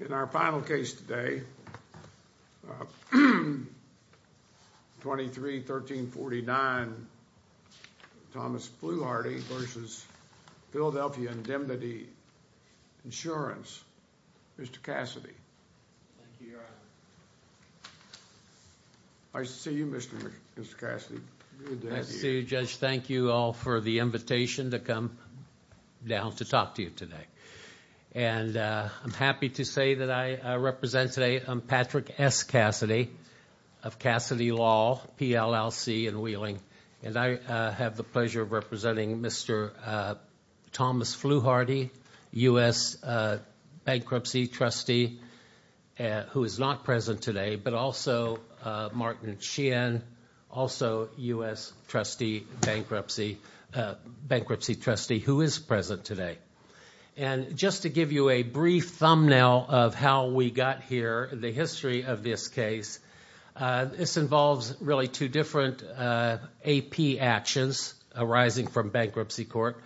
In our final case today, 23-1349 Thomas Fluharty v. Philadelphia Indemnity Insurance, Mr. Cassidy. Thank you, Your Honor. Nice to see you, Mr. Cassidy. Nice to see you, Judge. Thank you all for the invitation to come down to talk to you today. I'm happy to say that I represent today Patrick S. Cassidy of Cassidy Law, PLLC in Wheeling. I have the pleasure of representing Mr. Thomas Fluharty, U.S. Bankruptcy Trustee, who is not present today, but also Martin Sheehan, also U.S. Bankruptcy Trustee, who is present today. And just to give you a brief thumbnail of how we got here, the history of this case, this involves really two different AP actions arising from bankruptcy court.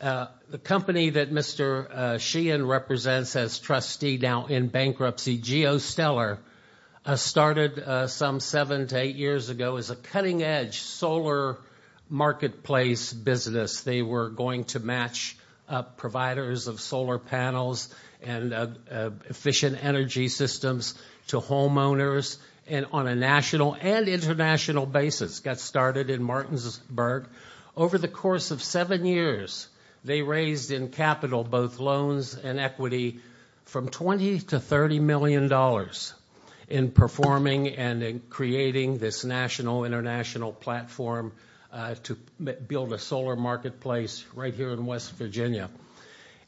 The company that Mr. Sheehan represents as trustee now in bankruptcy, Geostellar, started some seven to eight years ago as a cutting-edge solar marketplace business. They were going to match providers of solar panels and efficient energy systems to homeowners, and on a national and international basis, got started in Martinsburg. Over the course of seven years, they raised in capital both loans and equity from $20 million to $30 million in performing and in creating this national, international platform to build a solar marketplace right here in West Virginia.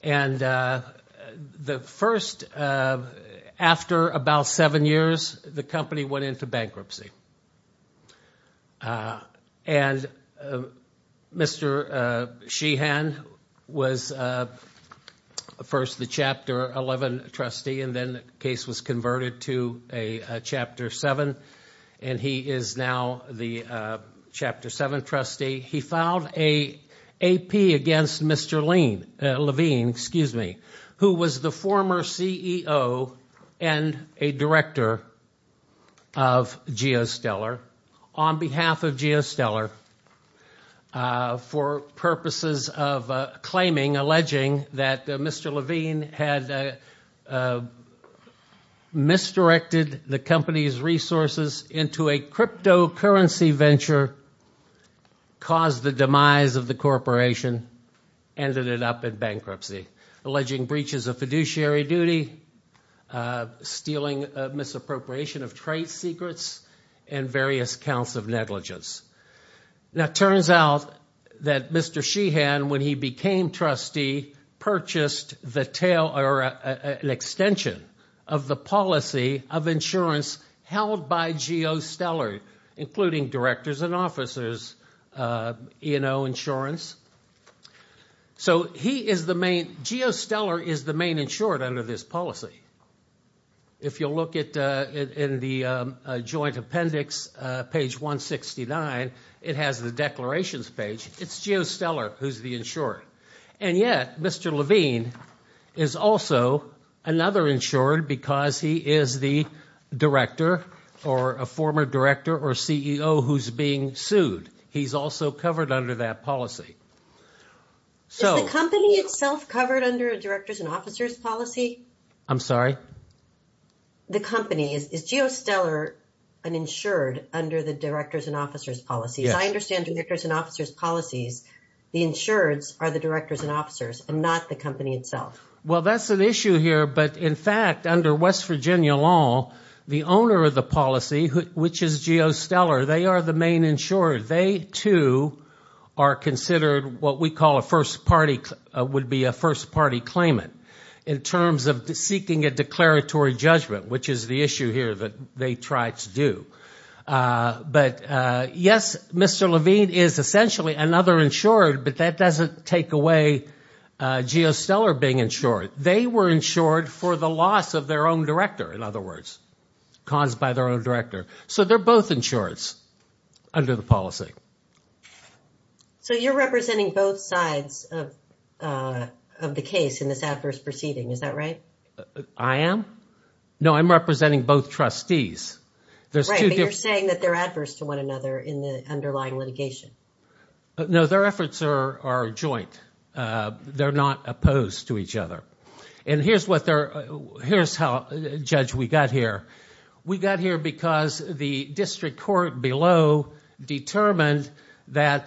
And the first, after about seven years, the company went into bankruptcy. And Mr. Sheehan was first the Chapter 11 trustee, and then the case was converted to a Chapter 7, and he is now the Chapter 7 trustee. He filed an AP against Mr. Levine, who was the former CEO and a director of Geostellar. On behalf of Geostellar, for purposes of claiming, alleging, that Mr. Levine had misdirected the company's resources into a cryptocurrency venture, caused the demise of the corporation, ended it up in bankruptcy, alleging breaches of fiduciary duty, stealing, misappropriation of trade secrets, and various counts of negligence. Now, it turns out that Mr. Sheehan, when he became trustee, purchased an extension of the policy of insurance held by Geostellar, including directors and officers' E&O insurance. So Geostellar is the main insured under this policy. If you'll look in the joint appendix, page 169, it has the declarations page. It's Geostellar who's the insurer. And yet, Mr. Levine is also another insurer because he is the director or a former director or CEO who's being sued. He's also covered under that policy. Is the company itself covered under a directors and officers' policy? I'm sorry? The company. Is Geostellar an insured under the directors and officers' policy? Yes. I understand directors and officers' policies. The insureds are the directors and officers and not the company itself. Well, that's an issue here. But in fact, under West Virginia law, the owner of the policy, which is Geostellar, they are the main insured. They, too, are considered what we call would be a first-party claimant in terms of seeking a declaratory judgment, which is the issue here that they try to do. But, yes, Mr. Levine is essentially another insurer, but that doesn't take away Geostellar being insured. They were insured for the loss of their own director, in other words, caused by their own director. So they're both insureds under the policy. So you're representing both sides of the case in this adverse proceeding. Is that right? I am? No, I'm representing both trustees. Right, but you're saying that they're adverse to one another in the underlying litigation. No, their efforts are joint. They're not opposed to each other. And here's how, Judge, we got here. We got here because the district court below determined that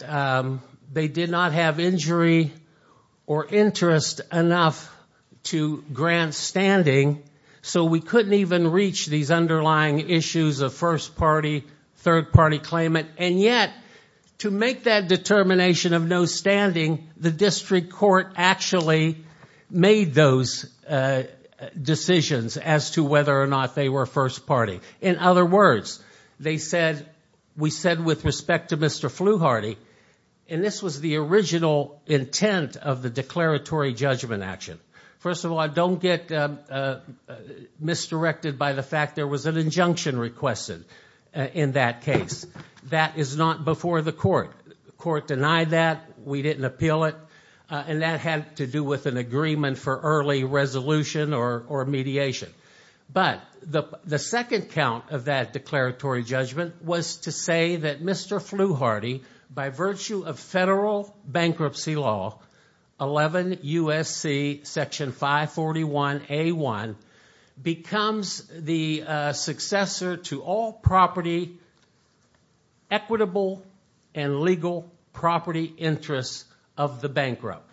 they did not have injury or interest enough to grant standing, so we couldn't even reach these underlying issues of first-party, third-party claimant. And yet, to make that determination of no standing, the district court actually made those decisions as to whether or not they were first-party. In other words, they said, we said with respect to Mr. Fluharty, and this was the original intent of the declaratory judgment action. First of all, don't get misdirected by the fact there was an injunction requested in that case. That is not before the court. The court denied that. We didn't appeal it. And that had to do with an agreement for early resolution or mediation. But the second count of that declaratory judgment was to say that Mr. Fluharty, by virtue of federal bankruptcy law, 11 U.S.C. section 541A1, becomes the successor to all property equitable and legal property interests of the bankrupt.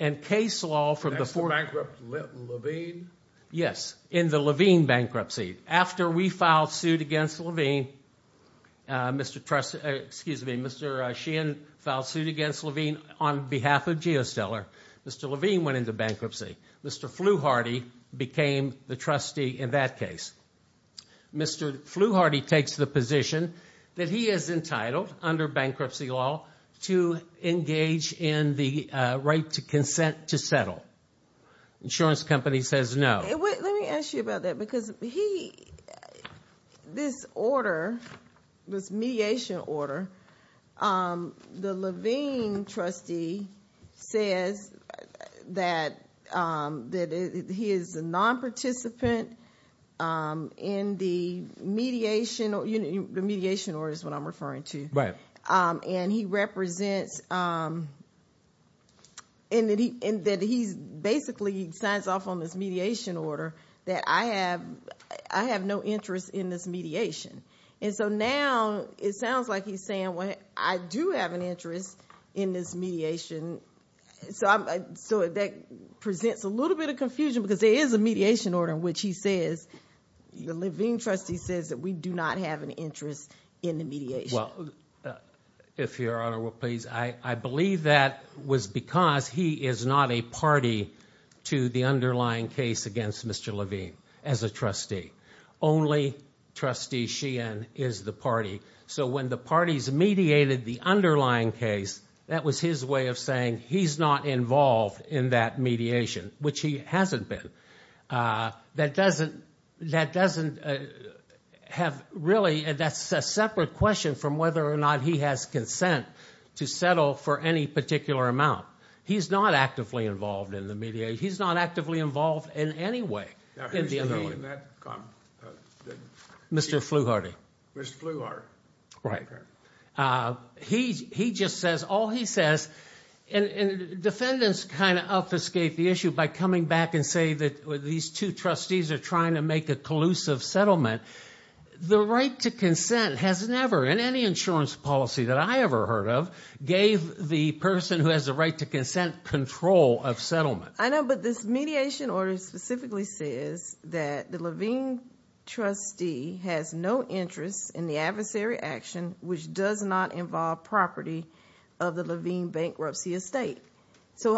And case law from the fourth- Next to bankrupt Levine? Yes, in the Levine bankruptcy. After we filed suit against Levine, Mr. Sheehan filed suit against Levine on behalf of GeoStellar. Mr. Levine went into bankruptcy. Mr. Fluharty became the trustee in that case. Mr. Fluharty takes the position that he is entitled, under bankruptcy law, to engage in the right to consent to settle. Insurance company says no. Let me ask you about that because he- This order, this mediation order, the Levine trustee says that he is a non-participant in the mediation- The mediation order is what I'm referring to. Right. And he represents, and that he basically signs off on this mediation order that I have no interest in this mediation. And so now it sounds like he's saying, well, I do have an interest in this mediation. So that presents a little bit of confusion because there is a mediation order in which he says, the Levine trustee says that we do not have an interest in the mediation. Well, if Your Honor will please, I believe that was because he is not a party to the underlying case against Mr. Levine as a trustee. Only Trustee Sheehan is the party. So when the parties mediated the underlying case, that was his way of saying he's not involved in that mediation, which he hasn't been. That doesn't have really, that's a separate question from whether or not he has consent to settle for any particular amount. He's not actively involved in the mediation. He's not actively involved in any way in the underlying- Now, who's he in that- Mr. Flewharty. Mr. Flewharty. Right. Okay. He just says, all he says, and defendants kind of obfuscate the issue by coming back and say that these two trustees are trying to make a collusive settlement. The right to consent has never, in any insurance policy that I ever heard of, gave the person who has the right to consent control of settlement. I know, but this mediation order specifically says that the Levine trustee has no interest in the adversary action which does not involve property of the Levine bankruptcy estate. So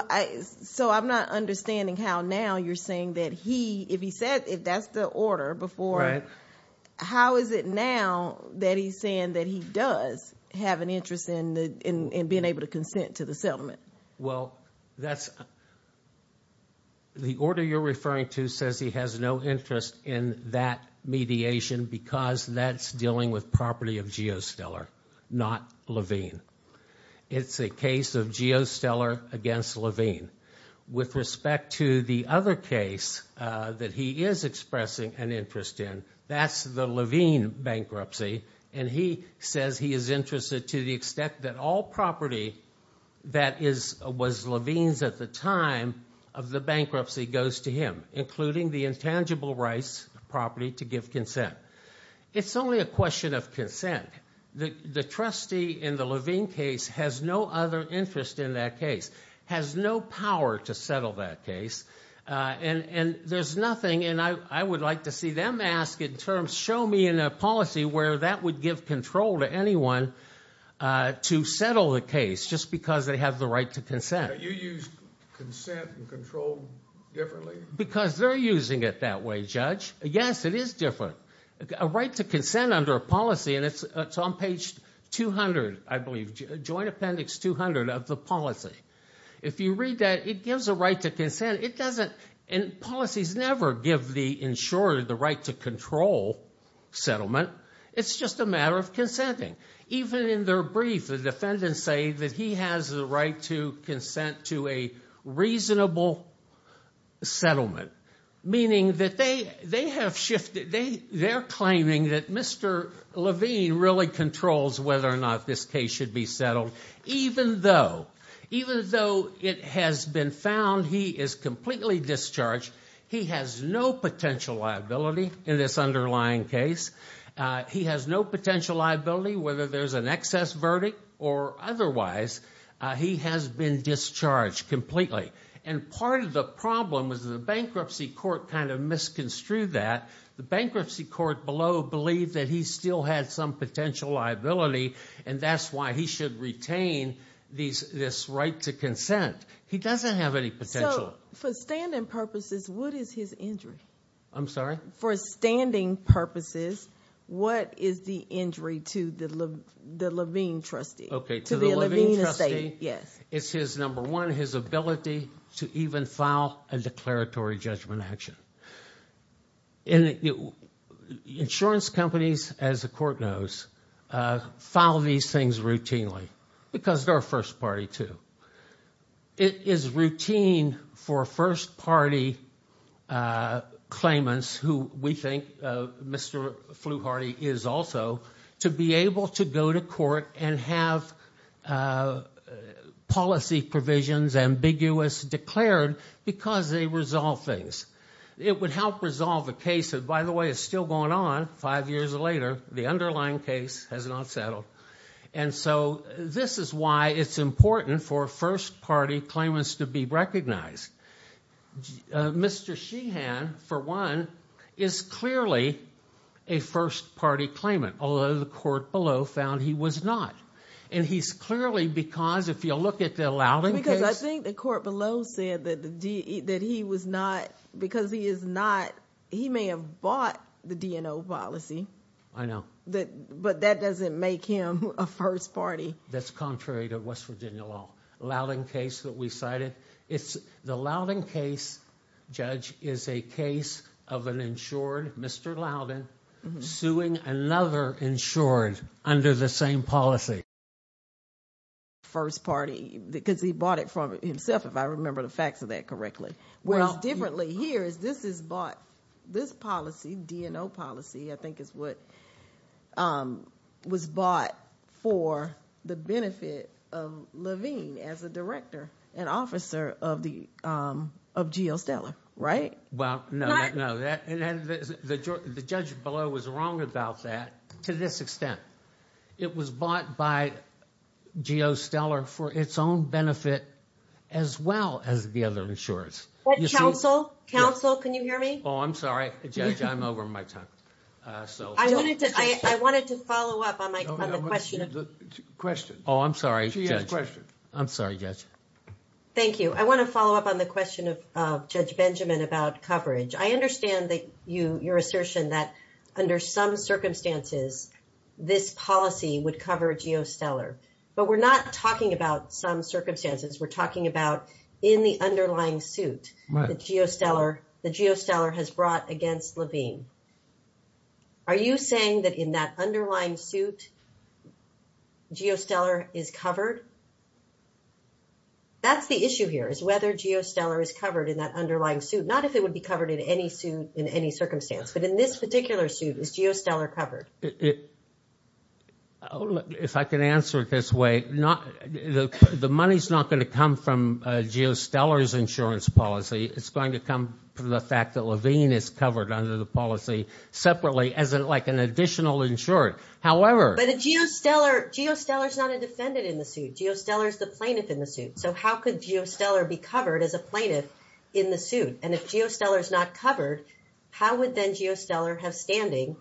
I'm not understanding how now you're saying that he, if he said, if that's the order before, how is it now that he's saying that he does have an interest in being able to consent to the settlement? Well, that's, the order you're referring to says he has no interest in that mediation because that's dealing with property of Geostellar, not Levine. It's a case of Geostellar against Levine. With respect to the other case that he is expressing an interest in, that's the Levine bankruptcy, and he says he is interested to the extent that all property that was Levine's at the time of the bankruptcy goes to him, including the intangible rights property to give consent. It's only a question of consent. The trustee in the Levine case has no other interest in that case. Has no power to settle that case. And there's nothing, and I would like to see them ask in terms, show me in a policy where that would give control to anyone to settle the case just because they have the right to consent. You used consent and control differently? Because they're using it that way, Judge. Yes, it is different. A right to consent under a policy, and it's on page 200, I believe, Joint Appendix 200 of the policy. If you read that, it gives a right to consent. It doesn't, and policies never give the insurer the right to control settlement. It's just a matter of consenting. Even in their brief, the defendants say that he has the right to consent to a reasonable settlement. Meaning that they have shifted, they're claiming that Mr. Levine really controls whether or not this case should be settled. Even though it has been found he is completely discharged, he has no potential liability in this underlying case. He has no potential liability whether there's an excess verdict or otherwise. He has been discharged completely. And part of the problem is the bankruptcy court kind of misconstrued that. The bankruptcy court below believed that he still had some potential liability, and that's why he should retain this right to consent. He doesn't have any potential. So, for standing purposes, what is his injury? I'm sorry? For standing purposes, what is the injury to the Levine trustee? Okay. To the Levine trustee? Yes. It's his, number one, his ability to even file a declaratory judgment action. Insurance companies, as the court knows, file these things routinely because they're a first party too. It is routine for first party claimants, who we think Mr. Fluharty is also, to be able to go to court and have policy provisions ambiguous declared because they resolve things. It would help resolve a case that, by the way, is still going on five years later. The underlying case has not settled. And so this is why it's important for first party claimants to be recognized. Mr. Sheehan, for one, is clearly a first party claimant, although the court below found he was not. And he's clearly because, if you look at the Loudon case. Because I think the court below said that he was not, because he is not, he may have bought the DNO policy. I know. But that doesn't make him a first party. That's contrary to West Virginia law. Loudon case that we cited. The Loudon case, Judge, is a case of an insured Mr. Loudon suing another insured under the same policy. First party, because he bought it from himself, if I remember the facts of that correctly. Whereas differently here is this is bought, this policy, DNO policy, I think is what was bought for the benefit of Levine as a director and officer of the, of G.O. Stellar. Right? Well, no, no. The judge below was wrong about that to this extent. It was bought by G.O. Stellar for its own benefit as well as the other insurers. Counsel, counsel, can you hear me? Oh, I'm sorry. Judge, I'm over my time. So I wanted to, I wanted to follow up on the question. Oh, I'm sorry. I'm sorry, Judge. Thank you. I want to follow up on the question of Judge Benjamin about coverage. I understand that you, your assertion that under some circumstances, this policy would cover G.O. Stellar, but we're not talking about some circumstances. We're talking about in the underlying suit, the G.O. Stellar, the G.O. Stellar has brought against Levine. Are you saying that in that underlying suit, G.O. Stellar is covered? That's the issue here is whether G.O. Stellar is covered in that underlying suit. Not if it would be covered in any suit in any circumstance. But in this particular suit, is G.O. Stellar covered? If I can answer it this way, the money's not going to come from G.O. Stellar's insurance policy. It's going to come from the fact that Levine is covered under the policy separately as like an additional insurer. However. But a G.O. Stellar, G.O. Stellar is not a defendant in the suit. G.O. Stellar is the plaintiff in the suit. So how could G.O. Stellar be covered as a plaintiff in the suit? And if G.O. Stellar is not covered, how would then G.O. Stellar have standing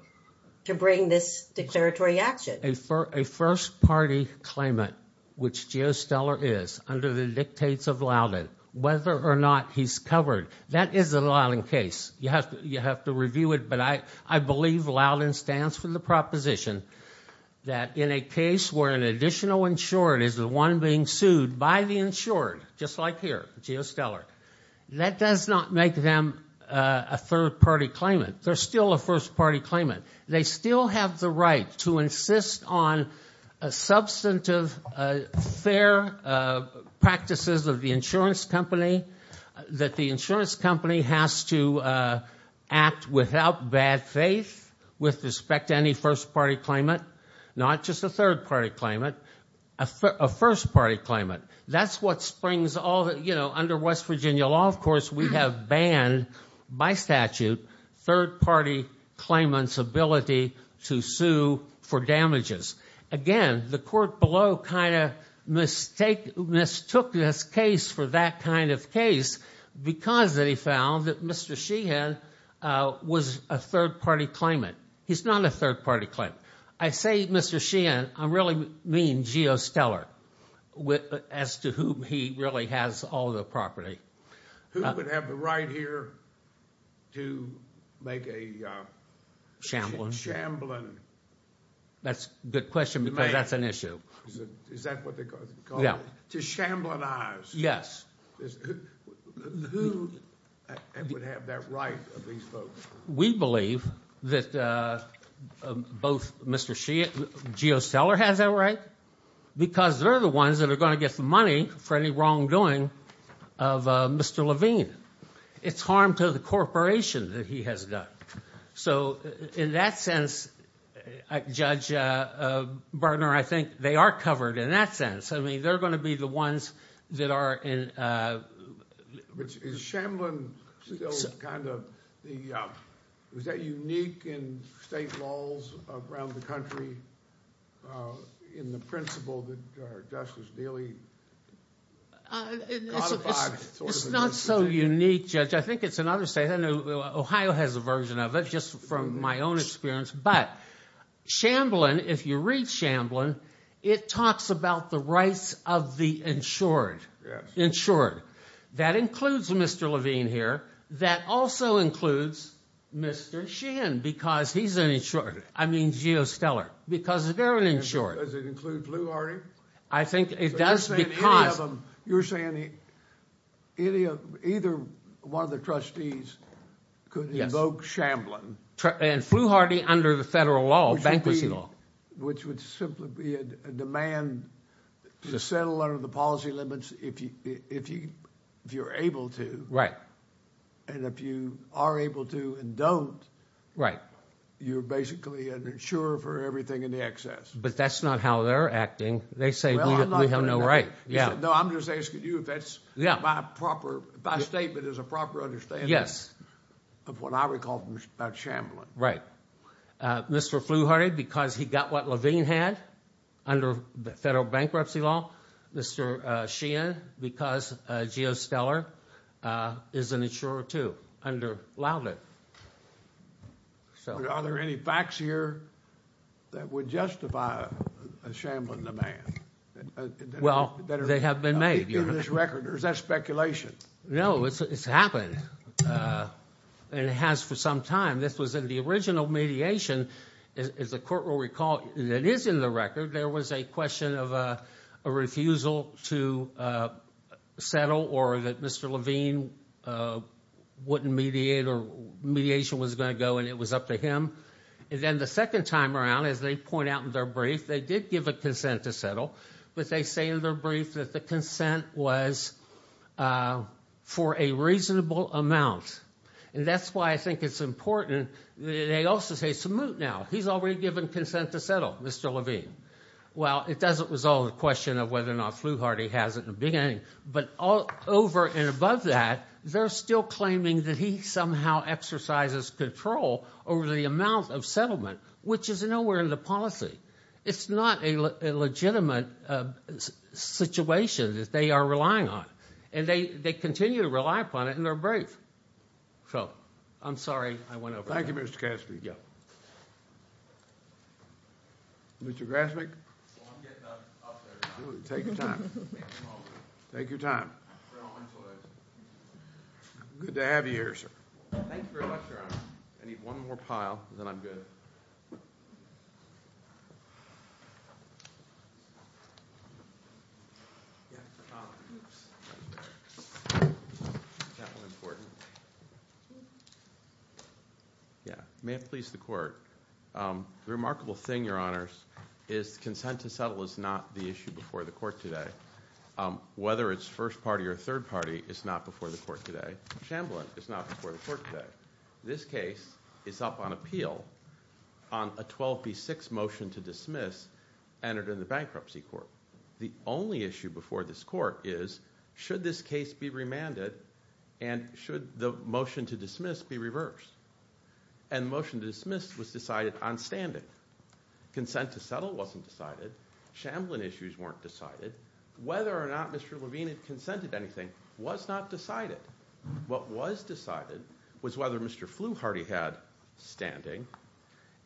to bring this declaratory action? A first party claimant, which G.O. Stellar is, under the dictates of Loudon, whether or not he's covered, that is a Loudon case. You have to review it. But I believe Loudon stands for the proposition that in a case where an additional insured is the one being sued by the insured, just like here, G.O. Stellar, that does not make them a third party claimant. They're still a first party claimant. They still have the right to insist on substantive, fair practices of the insurance company. That the insurance company has to act without bad faith with respect to any first party claimant. Not just a third party claimant. A first party claimant. Under West Virginia law, of course, we have banned by statute third party claimants' ability to sue for damages. Again, the court below kind of mistook this case for that kind of case because they found that Mr. Sheehan was a third party claimant. He's not a third party claimant. I say Mr. Sheehan, I really mean G.O. Stellar as to whom he really has all the property. Who would have the right here to make a shambling? That's a good question because that's an issue. Is that what they call it? Yeah. To shamblinize. Yes. Who would have that right of these folks? We believe that both Mr. Sheehan, G.O. Stellar has that right. Because they're the ones that are going to get the money for any wrongdoing of Mr. Levine. It's harm to the corporation that he has done. So in that sense, Judge Berner, I think they are covered in that sense. I mean, they're going to be the ones that are in. Is shamblin still kind of the – is that unique in state laws around the country in the principle that justice really codifies sort of a decision? It's not so unique, Judge. I think it's another state. I know Ohio has a version of it just from my own experience. But shamblin, if you read shamblin, it talks about the rights of the insured. That includes Mr. Levine here. That also includes Mr. Sheehan because he's an insured – I mean G.O. Stellar because they're an insured. Does it include Flewharty? I think it does because – You're saying either one of the trustees could invoke shamblin. And Flewharty under the federal law, bankruptcy law. Which would simply be a demand to settle under the policy limits if you're able to. And if you are able to and don't, you're basically an insurer for everything in excess. But that's not how they're acting. They say we have no right. No, I'm just asking you if that's my proper – if my statement is a proper understanding of what I recall about shamblin. Right. Mr. Flewharty because he got what Levine had under federal bankruptcy law. Mr. Sheehan because G.O. Stellar is an insurer too under Laudit. Are there any facts here that would justify a shamblin demand? Well, they have been made. In this record or is that speculation? No, it's happened and it has for some time. This was in the original mediation. As the court will recall, it is in the record. There was a question of a refusal to settle or that Mr. Levine wouldn't mediate or mediation was going to go and it was up to him. And then the second time around, as they point out in their brief, they did give a consent to settle. But they say in their brief that the consent was for a reasonable amount. And that's why I think it's important. They also say, so move now. He's already given consent to settle, Mr. Levine. Well, it doesn't resolve the question of whether or not Flewharty has it in the beginning. But over and above that, they're still claiming that he somehow exercises control over the amount of settlement, which is nowhere in the policy. It's not a legitimate situation that they are relying on. And they continue to rely upon it in their brief. So I'm sorry I went over that. Thank you, Mr. Kastner. Yeah. Mr. Grasmick? Well, I'm getting up there now. Take your time. Take your time. Good to have you here, sir. Thank you very much, Your Honor. I need one more pile, then I'm good. Yeah. May it please the Court. The remarkable thing, Your Honors, is consent to settle is not the issue before the court today. Whether it's first party or third party, it's not before the court today. Shamblin is not before the court today. This case is up on appeal on a 12B6 motion to dismiss entered in the bankruptcy court. The only issue before this court is, should this case be remanded and should the motion to dismiss be reversed? And the motion to dismiss was decided on standing. Consent to settle wasn't decided. Shamblin issues weren't decided. Whether or not Mr. Levine had consented to anything was not decided. What was decided was whether Mr. Fluharty had standing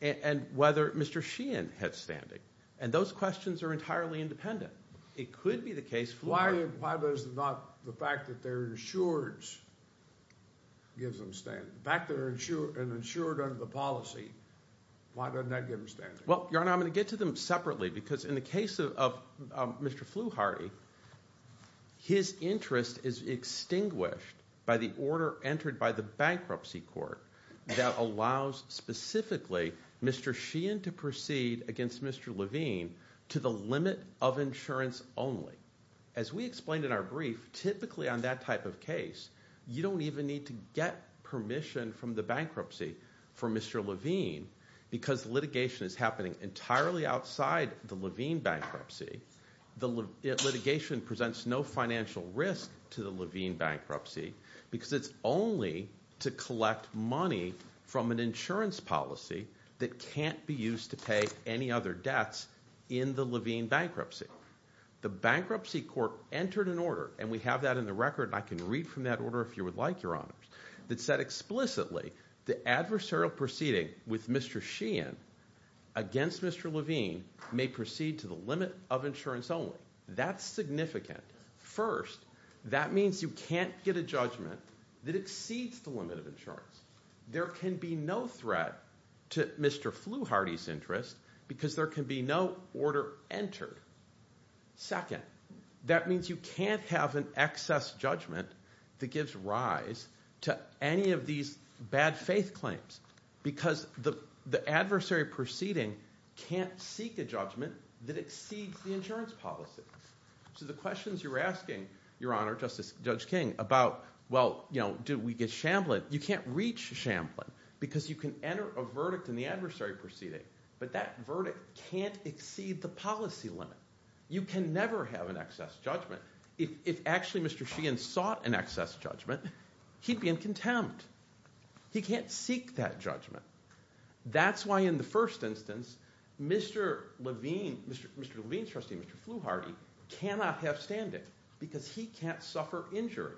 and whether Mr. Sheehan had standing. And those questions are entirely independent. It could be the case Fluharty— Why does not the fact that they're insureds give them standing? The fact that they're insured under the policy, why doesn't that give them standing? Well, Your Honor, I'm going to get to them separately because in the case of Mr. Fluharty, his interest is extinguished by the order entered by the bankruptcy court that allows, specifically, Mr. Sheehan to proceed against Mr. Levine to the limit of insurance only. As we explained in our brief, typically on that type of case, you don't even need to get permission from the bankruptcy for Mr. Levine because litigation is happening entirely outside the Levine bankruptcy. Litigation presents no financial risk to the Levine bankruptcy because it's only to collect money from an insurance policy that can't be used to pay any other debts in the Levine bankruptcy. The bankruptcy court entered an order, and we have that in the record, and I can read from that order if you would like, Your Honor, that said explicitly the adversarial proceeding with Mr. Sheehan against Mr. Levine may proceed to the limit of insurance only. That's significant. First, that means you can't get a judgment that exceeds the limit of insurance. There can be no threat to Mr. Fluharty's interest because there can be no order entered. Second, that means you can't have an excess judgment that gives rise to any of these bad faith claims because the adversarial proceeding can't seek a judgment that exceeds the insurance policy. So the questions you're asking, Your Honor, Justice Judge King, about, well, did we get Shamblin, you can't reach Shamblin because you can enter a verdict in the adversarial proceeding, but that verdict can't exceed the policy limit. You can never have an excess judgment. If actually Mr. Sheehan sought an excess judgment, he'd be in contempt. He can't seek that judgment. That's why in the first instance, Mr. Levine, Mr. Levine's trustee, Mr. Fluharty, cannot have standing because he can't suffer injury.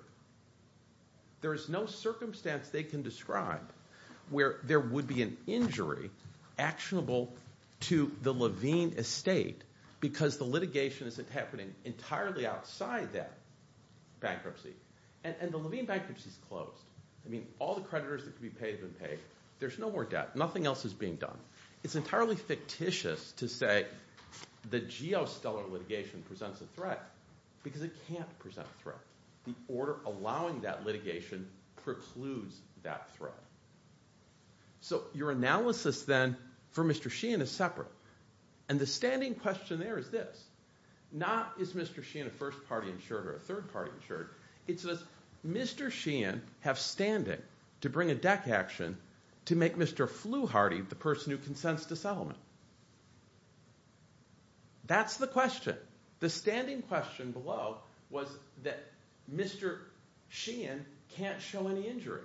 There is no circumstance they can describe where there would be an injury actionable to the Levine estate because the litigation is happening entirely outside that bankruptcy, and the Levine bankruptcy is closed. I mean all the creditors that could be paid have been paid. There's no more debt. Nothing else is being done. It's entirely fictitious to say the geostellar litigation presents a threat because it can't present a threat. The order allowing that litigation precludes that threat. So your analysis then for Mr. Sheehan is separate, and the standing question there is this. Not is Mr. Sheehan a first party insured or a third party insured. It's does Mr. Sheehan have standing to bring a deck action to make Mr. Fluharty the person who consents to settlement. That's the question. The standing question below was that Mr. Sheehan can't show any injury.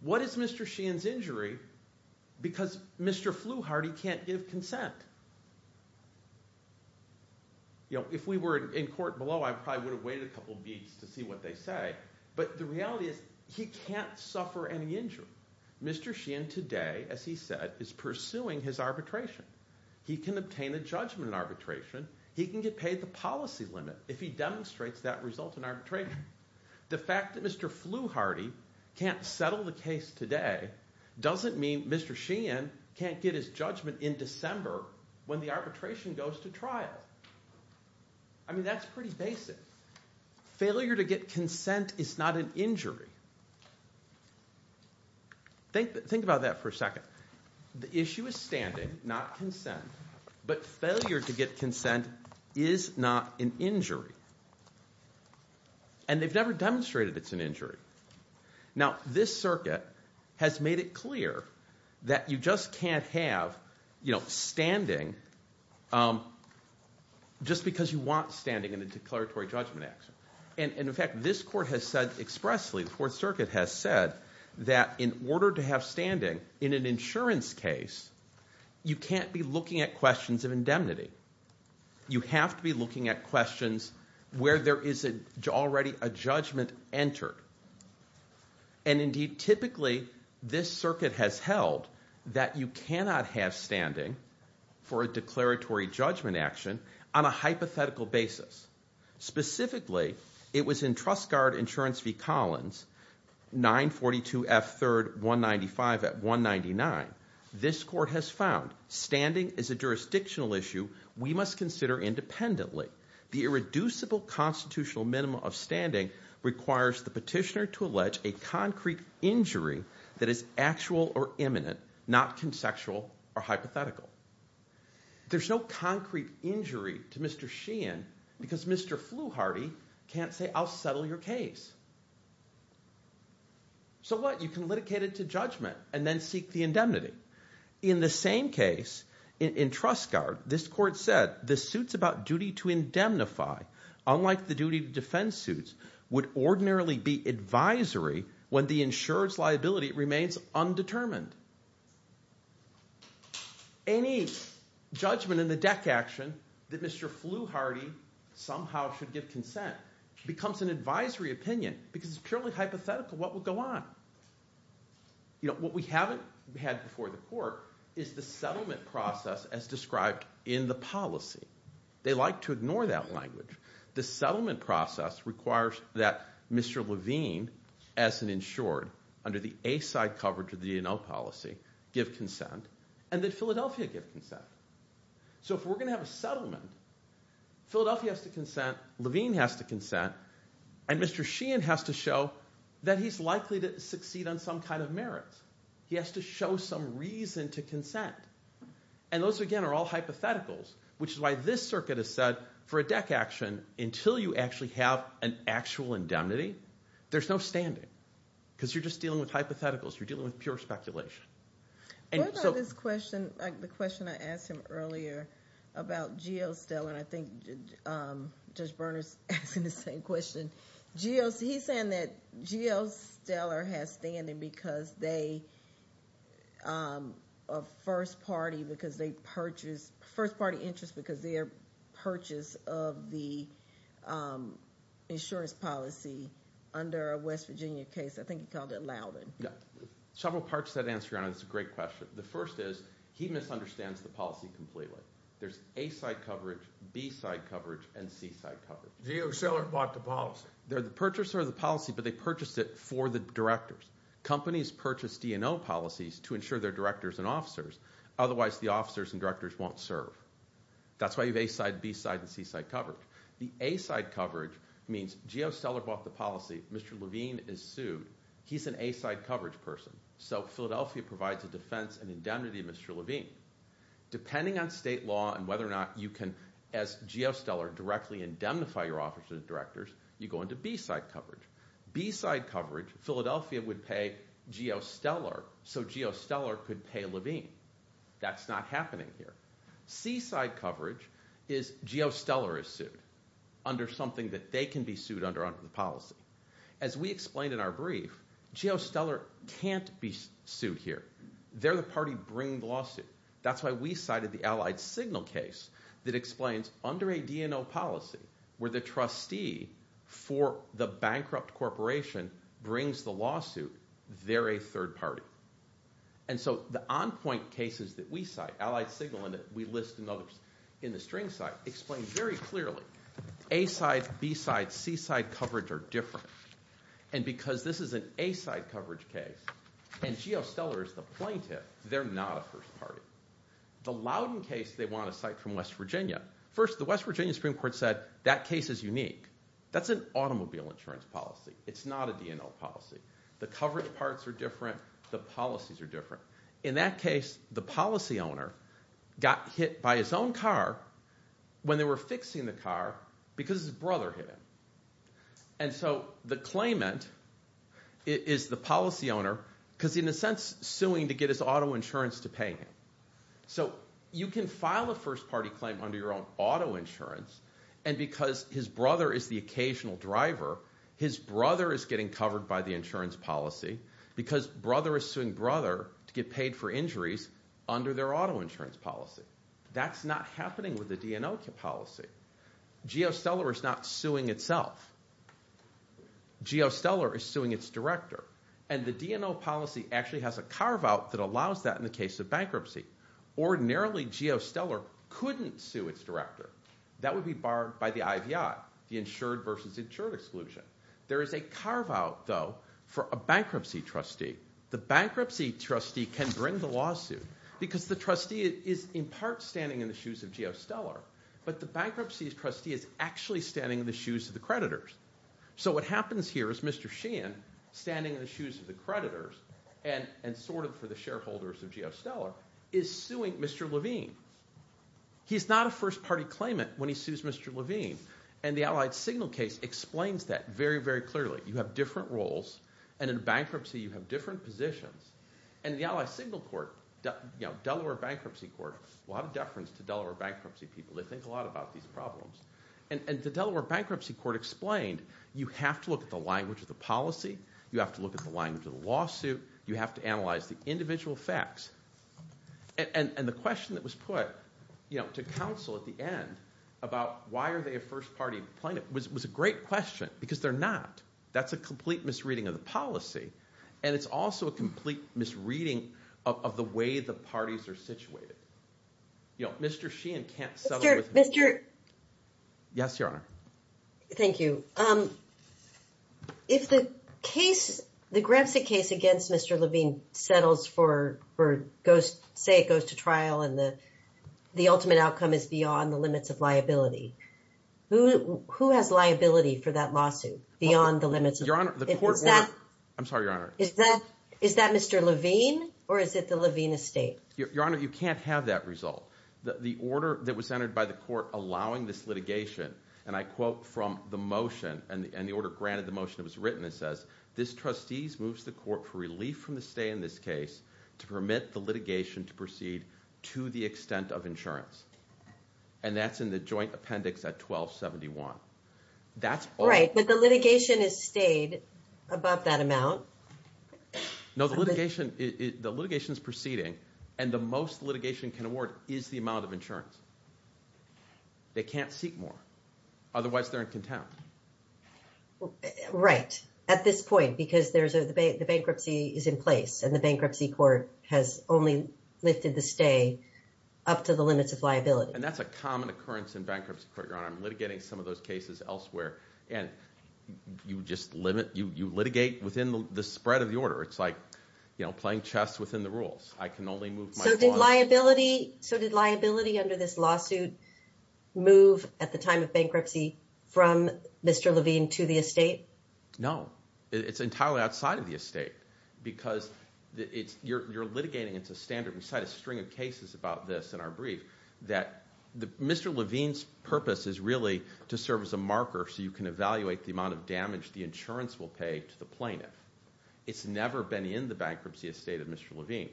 What is Mr. Sheehan's injury? Because Mr. Fluharty can't give consent. If we were in court below, I probably would have waited a couple of weeks to see what they say, but the reality is he can't suffer any injury. Mr. Sheehan today, as he said, is pursuing his arbitration. He can obtain a judgment in arbitration. He can get paid the policy limit if he demonstrates that result in arbitration. The fact that Mr. Fluharty can't settle the case today doesn't mean Mr. Sheehan can't get his judgment in December when the arbitration goes to trial. I mean that's pretty basic. Failure to get consent is not an injury. Think about that for a second. The issue is standing, not consent, but failure to get consent is not an injury, and they've never demonstrated it's an injury. Now, this circuit has made it clear that you just can't have standing just because you want standing in a declaratory judgment action. In fact, this court has said expressly, the Fourth Circuit has said, that in order to have standing in an insurance case, you can't be looking at questions of indemnity. You have to be looking at questions where there is already a judgment entered. Indeed, typically, this circuit has held that you cannot have standing for a declaratory judgment action on a hypothetical basis, specifically, it was in Trust Guard Insurance v. Collins, 942 F 3rd 195 at 199. This court has found standing is a jurisdictional issue we must consider independently. The irreducible constitutional minimum of standing requires the petitioner to allege a concrete injury that is actual or imminent, not conceptual or hypothetical. There's no concrete injury to Mr. Sheehan because Mr. Flewharty can't say, I'll settle your case. So what? You can litigate it to judgment and then seek the indemnity. In the same case, in Trust Guard, this court said, the suits about duty to indemnify, unlike the duty to defend suits, would ordinarily be advisory when the insurer's liability remains undetermined. Any judgment in the deck action that Mr. Flewharty somehow should give consent becomes an advisory opinion because it's purely hypothetical what would go on. What we haven't had before the court is the settlement process as described in the policy. They like to ignore that language. The settlement process requires that Mr. Levine, as an insured, under the A-side coverage of the DNL policy, give consent and that Philadelphia give consent. So if we're going to have a settlement, Philadelphia has to consent, Levine has to consent, and Mr. Sheehan has to show that he's likely to succeed on some kind of merits. He has to show some reason to consent. And those, again, are all hypotheticals, which is why this circuit has said, for a deck action, until you actually have an actual indemnity, there's no standing. Because you're just dealing with hypotheticals, you're dealing with pure speculation. What about this question, the question I asked him earlier about G.O. Stellar, and I think Judge Berners asked him the same question. He's saying that G.O. Stellar has standing because they, a first party, because they purchase, first party interest because their purchase of the insurance policy under a West Virginia case. I think he called it Loudon. Several parts to that answer, Your Honor, it's a great question. The first is, he misunderstands the policy completely. There's A-side coverage, B-side coverage, and C-side coverage. G.O. Stellar bought the policy. They're the purchaser of the policy, but they purchased it for the directors. Companies purchase DNO policies to insure their directors and officers, otherwise the officers and directors won't serve. That's why you have A-side, B-side, and C-side coverage. The A-side coverage means G.O. Stellar bought the policy, Mr. Levine is sued. He's an A-side coverage person, so Philadelphia provides a defense and indemnity to Mr. Levine. Depending on state law and whether or not you can, as G.O. Stellar, directly indemnify your officers and directors, you go into B-side coverage. B-side coverage, Philadelphia would pay G.O. Stellar, so G.O. Stellar could pay Levine. That's not happening here. C-side coverage is G.O. Stellar is sued under something that they can be sued under under the policy. As we explained in our brief, G.O. Stellar can't be sued here. They're the party bringing the lawsuit. That's why we cited the Allied Signal case that explains under a DNO policy where the trustee for the bankrupt corporation brings the lawsuit, they're a third party. The on-point cases that we cite, Allied Signal and that we list in the string site, explain very clearly A-side, B-side, C-side coverage are different. Because this is an A-side coverage case and G.O. Stellar is the plaintiff, they're not a first party. The Loudon case they want to cite from West Virginia, first the West Virginia Supreme Court said that case is unique. That's an automobile insurance policy. It's not a DNO policy. The coverage parts are different. The policies are different. In that case, the policy owner got hit by his own car when they were fixing the car because his brother hit him. And so the claimant is the policy owner because in a sense suing to get his auto insurance to pay him. So you can file a first party claim under your own auto insurance and because his brother is the occasional driver, his brother is getting covered by the insurance policy because brother is suing brother to get paid for injuries under their auto insurance policy. That's not happening with the DNO policy. G.O. Stellar is not suing itself. G.O. Stellar is suing its director. And the DNO policy actually has a carve out that allows that in the case of bankruptcy. Ordinarily, G.O. Stellar couldn't sue its director. That would be barred by the IVI, the insured versus insured exclusion. There is a carve out, though, for a bankruptcy trustee. The bankruptcy trustee can bring the lawsuit because the trustee is in part standing in the shoes of G.O. Stellar. But the bankruptcy trustee is actually standing in the shoes of the creditors. So what happens here is Mr. Sheehan, standing in the shoes of the creditors and sort of for the shareholders of G.O. Stellar, is suing Mr. Levine. He's not a first party claimant when he sues Mr. Levine. And the Allied Signal case explains that very, very clearly. You have different roles, and in bankruptcy you have different positions. And the Allied Signal court, Delaware Bankruptcy Court, will have a deference to Delaware bankruptcy people. They think a lot about these problems. And the Delaware Bankruptcy Court explained you have to look at the language of the policy. You have to look at the language of the lawsuit. You have to analyze the individual facts. And the question that was put to counsel at the end about why are they a first party claimant was a great question because they're not. That's a complete misreading of the policy, and it's also a complete misreading of the way the parties are situated. You know, Mr. Sheehan can't settle with Mr. – Yes, Your Honor. Thank you. If the case, the grant suit case against Mr. Levine settles for – say it goes to trial and the ultimate outcome is beyond the limits of liability, who has liability for that lawsuit beyond the limits of – Your Honor, the court – Is that – I'm sorry, Your Honor. Is that Mr. Levine, or is it the Levine estate? Your Honor, you can't have that result. The order that was entered by the court allowing this litigation, and I quote from the motion, and the order granted the motion that was written, it says, this trustee moves the court for relief from the stay in this case to permit the litigation to proceed to the extent of insurance. And that's in the joint appendix at 1271. That's – Right, but the litigation has stayed above that amount. No, the litigation is proceeding, and the most litigation can award is the amount of insurance. They can't seek more. Otherwise, they're in contempt. Right. At this point, because there's a – the bankruptcy is in place, and the bankruptcy court has only lifted the stay up to the limits of liability. And that's a common occurrence in bankruptcy court, Your Honor. I'm litigating some of those cases elsewhere, and you just limit – you litigate within the spread of the order. It's like playing chess within the rules. I can only move my – So did liability under this lawsuit move at the time of bankruptcy from Mr. Levine to the estate? No. It's entirely outside of the estate because it's – you're litigating. We cite a string of cases about this in our brief that Mr. Levine's purpose is really to serve as a marker so you can evaluate the amount of damage the insurance will pay to the plaintiff. It's never been in the bankruptcy estate of Mr. Levine.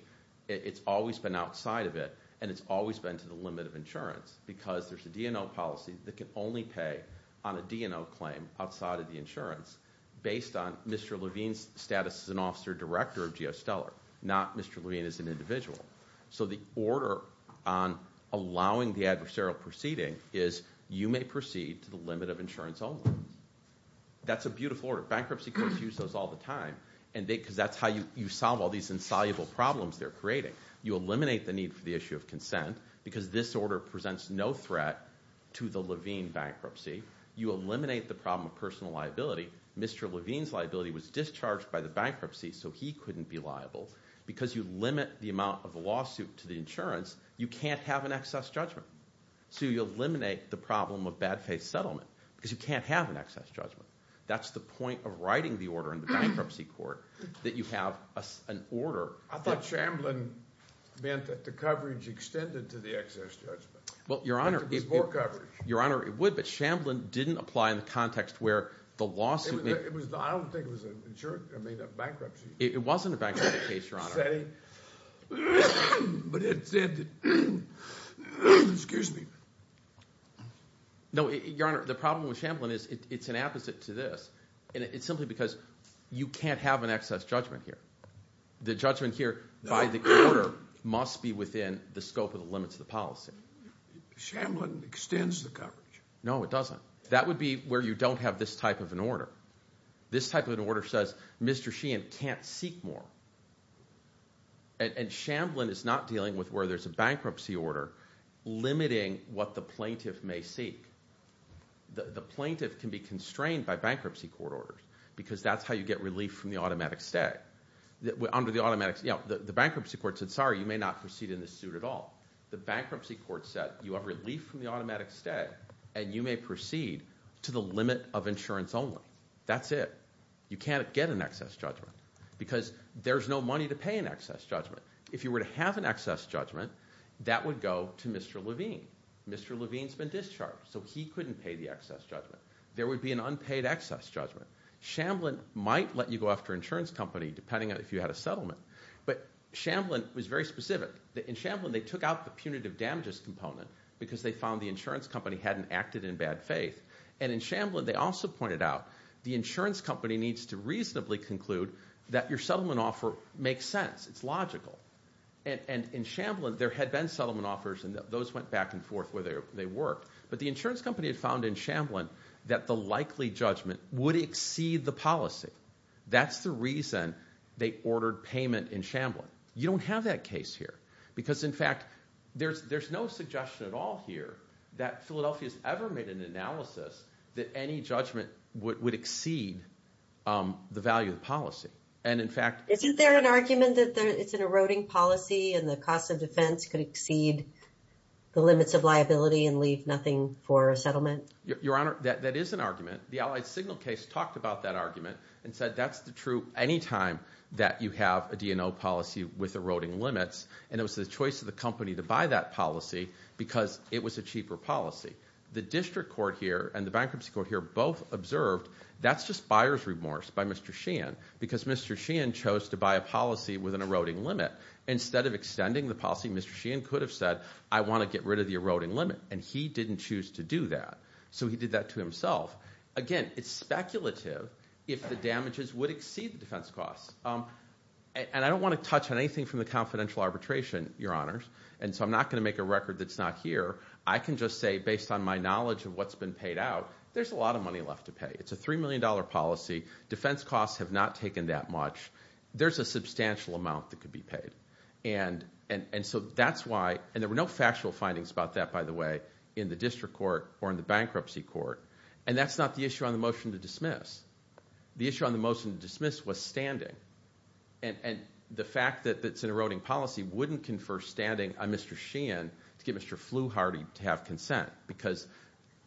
It's always been outside of it, and it's always been to the limit of insurance because there's a D&O policy that can only pay on a D&O claim outside of the insurance based on Mr. Levine's status as an officer director of GeoStellar, not Mr. Levine as an individual. So the order on allowing the adversarial proceeding is you may proceed to the limit of insurance only. That's a beautiful order. Bankruptcy courts use those all the time because that's how you solve all these insoluble problems they're creating. You eliminate the need for the issue of consent because this order presents no threat to the Levine bankruptcy. You eliminate the problem of personal liability. Mr. Levine's liability was discharged by the bankruptcy, so he couldn't be liable. Because you limit the amount of the lawsuit to the insurance, you can't have an excess judgment. So you eliminate the problem of bad faith settlement because you can't have an excess judgment. That's the point of writing the order in the bankruptcy court, that you have an order. I thought Shamblin meant that the coverage extended to the excess judgment. Your Honor, it would, but Shamblin didn't apply in the context I don't think it was a bankruptcy. It wasn't a bankruptcy case, Your Honor. But it said that, excuse me. No, Your Honor, the problem with Shamblin is it's an apposite to this. It's simply because you can't have an excess judgment here. The judgment here by the court must be within the scope of the limits of the policy. Shamblin extends the coverage. No, it doesn't. That would be where you don't have this type of an order. This type of an order says Mr. Sheehan can't seek more. And Shamblin is not dealing with where there's a bankruptcy order limiting what the plaintiff may seek. The plaintiff can be constrained by bankruptcy court orders because that's how you get relief from the automatic stay. The bankruptcy court said, sorry, you may not proceed in this suit at all. The bankruptcy court said you have relief from the automatic stay and you may proceed to the limit of insurance only. That's it. You can't get an excess judgment because there's no money to pay an excess judgment. If you were to have an excess judgment, that would go to Mr. Levine. Mr. Levine's been discharged, so he couldn't pay the excess judgment. There would be an unpaid excess judgment. Shamblin might let you go after an insurance company depending on if you had a settlement. But Shamblin was very specific. In Shamblin they took out the punitive damages component because they found the insurance company hadn't acted in bad faith. And in Shamblin they also pointed out the insurance company needs to reasonably conclude that your settlement offer makes sense. It's logical. And in Shamblin there had been settlement offers, and those went back and forth where they worked. But the insurance company had found in Shamblin that the likely judgment would exceed the policy. That's the reason they ordered payment in Shamblin. You don't have that case here because, in fact, there's no suggestion at all here that Philadelphia has ever made an analysis that any judgment would exceed the value of the policy. And, in fact, Isn't there an argument that it's an eroding policy and the cost of defense could exceed the limits of liability and leave nothing for a settlement? Your Honor, that is an argument. The Allied Signal case talked about that argument and said that's true any time that you have a DNO policy with eroding limits. And it was the choice of the company to buy that policy because it was a cheaper policy. The district court here and the bankruptcy court here both observed that's just buyer's remorse by Mr. Sheehan because Mr. Sheehan chose to buy a policy with an eroding limit. Instead of extending the policy, Mr. Sheehan could have said, I want to get rid of the eroding limit. And he didn't choose to do that. So he did that to himself. Again, it's speculative if the damages would exceed the defense costs. And I don't want to touch on anything from the confidential arbitration, Your Honors, and so I'm not going to make a record that's not here. I can just say, based on my knowledge of what's been paid out, there's a lot of money left to pay. It's a $3 million policy. Defense costs have not taken that much. There's a substantial amount that could be paid. And so that's why – and there were no factual findings about that, by the way, in the district court or in the bankruptcy court. And that's not the issue on the motion to dismiss. The issue on the motion to dismiss was standing. And the fact that it's an eroding policy wouldn't confer standing on Mr. Sheehan to get Mr. Fluharty to have consent because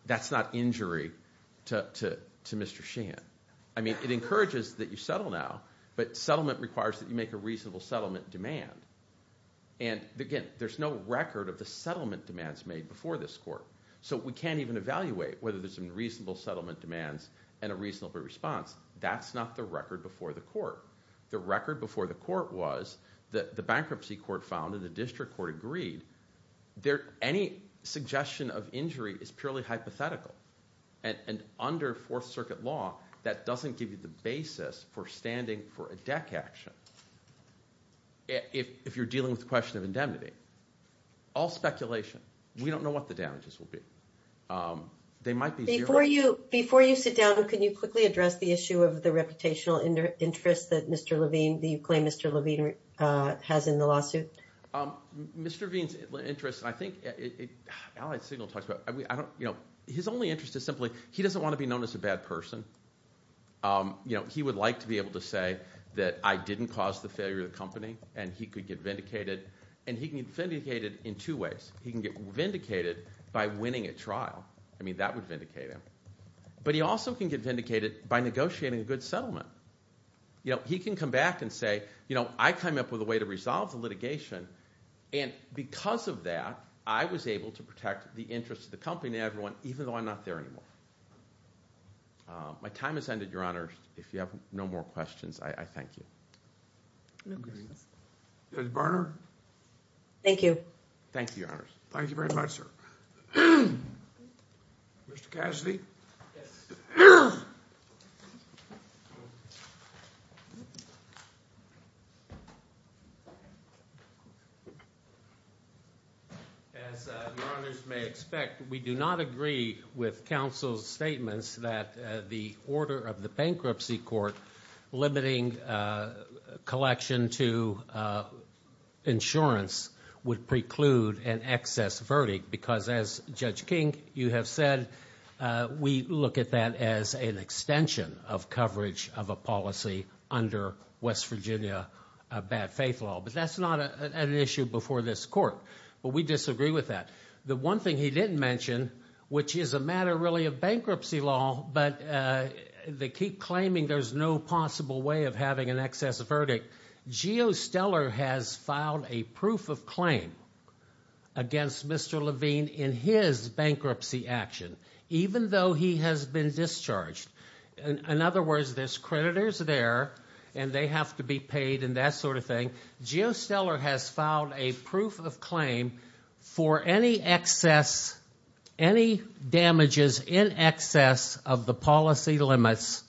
that's not injury to Mr. Sheehan. I mean it encourages that you settle now, but settlement requires that you make a reasonable settlement demand. And again, there's no record of the settlement demands made before this court. So we can't even evaluate whether there's some reasonable settlement demands and a reasonable response. That's not the record before the court. The record before the court was that the bankruptcy court found and the district court agreed that any suggestion of injury is purely hypothetical. And under Fourth Circuit law, that doesn't give you the basis for standing for a deck action if you're dealing with the question of indemnity. All speculation. We don't know what the damages will be. They might be zero. Before you sit down, can you quickly address the issue of the reputational interest that Mr. Levine – that you claim Mr. Levine has in the lawsuit? Mr. Levine's interest, I think – his only interest is simply he doesn't want to be known as a bad person. He would like to be able to say that I didn't cause the failure of the company, and he could get vindicated. And he can get vindicated in two ways. He can get vindicated by winning a trial. I mean that would vindicate him. But he also can get vindicated by negotiating a good settlement. He can come back and say, I came up with a way to resolve the litigation, and because of that, I was able to protect the interest of the company and everyone even though I'm not there anymore. My time has ended, Your Honors. If you have no more questions, I thank you. Judge Barnard? Thank you. Thank you, Your Honors. Thank you very much, sir. Mr. Cassidy? Yes. As Your Honors may expect, we do not agree with counsel's statements that the order of the bankruptcy court limiting collection to insurance would preclude an excess verdict because, as Judge King, you have said, we look at that as an extension of coverage of a policy under West Virginia bad faith law. But that's not an issue before this court. But we disagree with that. The one thing he didn't mention, which is a matter really of bankruptcy law, but they keep claiming there's no possible way of having an excess verdict, GeoStellar has filed a proof of claim against Mr. Levine in his bankruptcy action, even though he has been discharged. In other words, there's creditors there and they have to be paid and that sort of thing. GeoStellar has filed a proof of claim for any excess, any damages in excess of the policy limits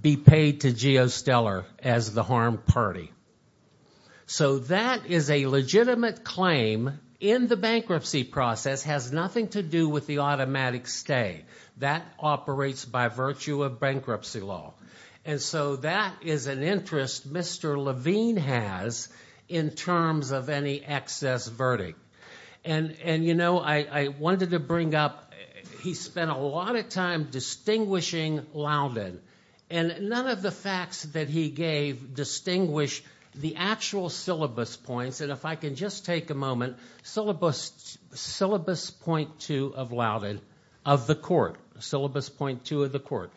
be paid to GeoStellar as the harmed party. So that is a legitimate claim in the bankruptcy process, has nothing to do with the automatic stay. That operates by virtue of bankruptcy law. And so that is an interest Mr. Levine has in terms of any excess verdict. And, you know, I wanted to bring up, he spent a lot of time distinguishing Loudon. And none of the facts that he gave distinguish the actual syllabus points. And if I can just take a moment, syllabus point two of Loudon, of the court, syllabus point two of the court.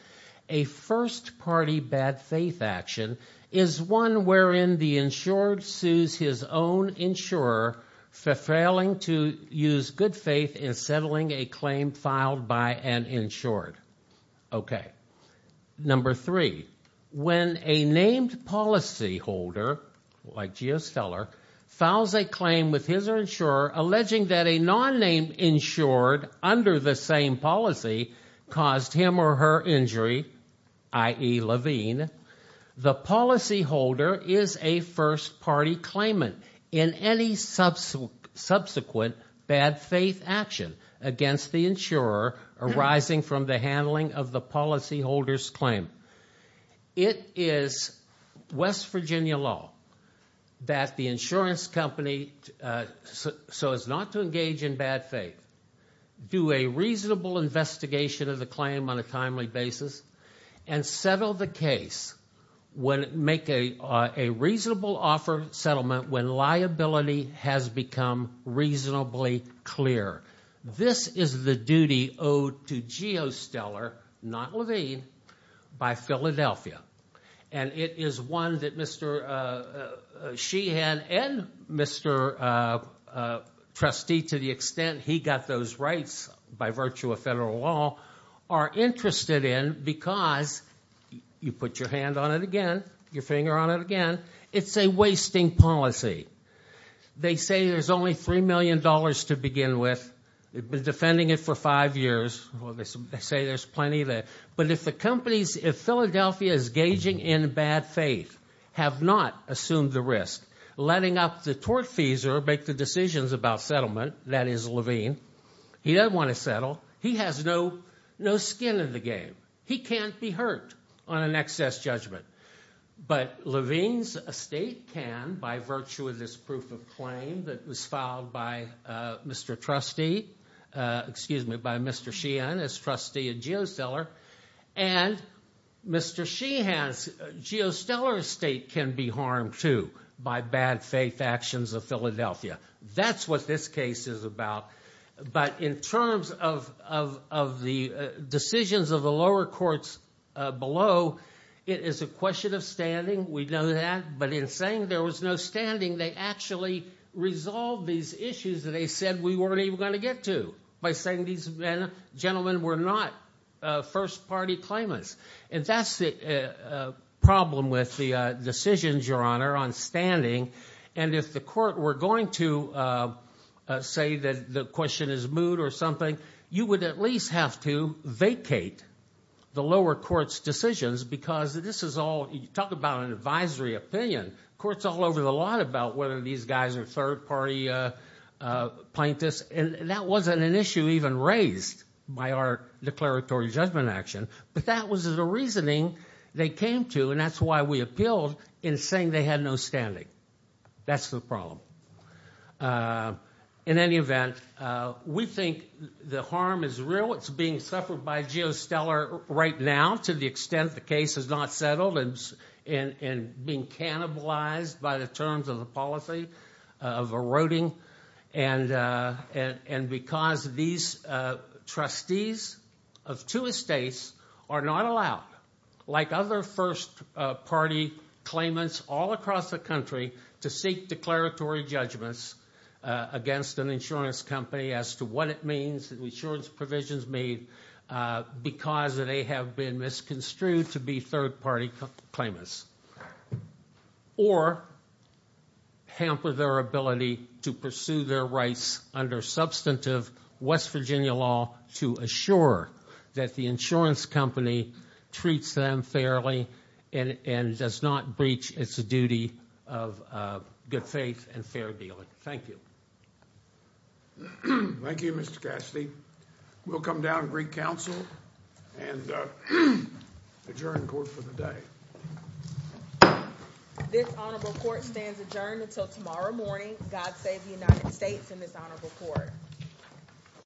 A first party bad faith action is one wherein the insured sues his own insurer for failing to use good faith in settling a claim filed by an insured. Okay. Number three, when a named policy holder like GeoStellar files a claim with his insurer alleging that a non-named insured under the same policy caused him or her injury, i.e. Levine, the policy holder is a first party claimant in any subsequent bad faith action against the insurer arising from the handling of the policy holder's claim. It is West Virginia law that the insurance company, so as not to engage in bad faith, do a reasonable investigation of the claim on a timely basis. And settle the case, make a reasonable offer of settlement when liability has become reasonably clear. This is the duty owed to GeoStellar, not Levine, by Philadelphia. And it is one that Mr. Sheehan and Mr. Trustee, to the extent he got those rights by virtue of federal law, are interested in because, you put your hand on it again, your finger on it again, it's a wasting policy. They say there's only $3 million to begin with. They've been defending it for five years. They say there's plenty there. But if the companies, if Philadelphia is gauging in bad faith, have not assumed the risk, letting up the tort fees or make the decisions about settlement, that is Levine, he doesn't want to settle. He has no skin in the game. He can't be hurt on an excess judgment. But Levine's estate can by virtue of this proof of claim that was filed by Mr. Trustee, excuse me, by Mr. Sheehan as trustee at GeoStellar. And Mr. Sheehan's GeoStellar estate can be harmed, too, by bad faith actions of Philadelphia. That's what this case is about. But in terms of the decisions of the lower courts below, it is a question of standing. We know that. But in saying there was no standing, they actually resolved these issues that they said we weren't even going to get to by saying these gentlemen were not first-party claimants. And that's the problem with the decisions, Your Honor, on standing. And if the court were going to say that the question is mood or something, you would at least have to vacate the lower court's decisions because this is all – you talk about an advisory opinion. The court's all over the line about whether these guys are third-party plaintiffs. And that wasn't an issue even raised by our declaratory judgment action. But that was the reasoning they came to, and that's why we appealed in saying they had no standing. That's the problem. In any event, we think the harm is real. It's being suffered by GeoStellar right now to the extent the case is not settled and being cannibalized by the terms of the policy of eroding. And because these trustees of two estates are not allowed, like other first-party claimants all across the country, to seek declaratory judgments against an insurance company as to what it means, because they have been misconstrued to be third-party claimants, or hamper their ability to pursue their rights under substantive West Virginia law to assure that the insurance company treats them fairly and does not breach its duty of good faith and fair dealing. Thank you. Thank you, Mr. Cassidy. We'll come down to Greek Council and adjourn court for the day. This honorable court stands adjourned until tomorrow morning. God save the United States and this honorable court.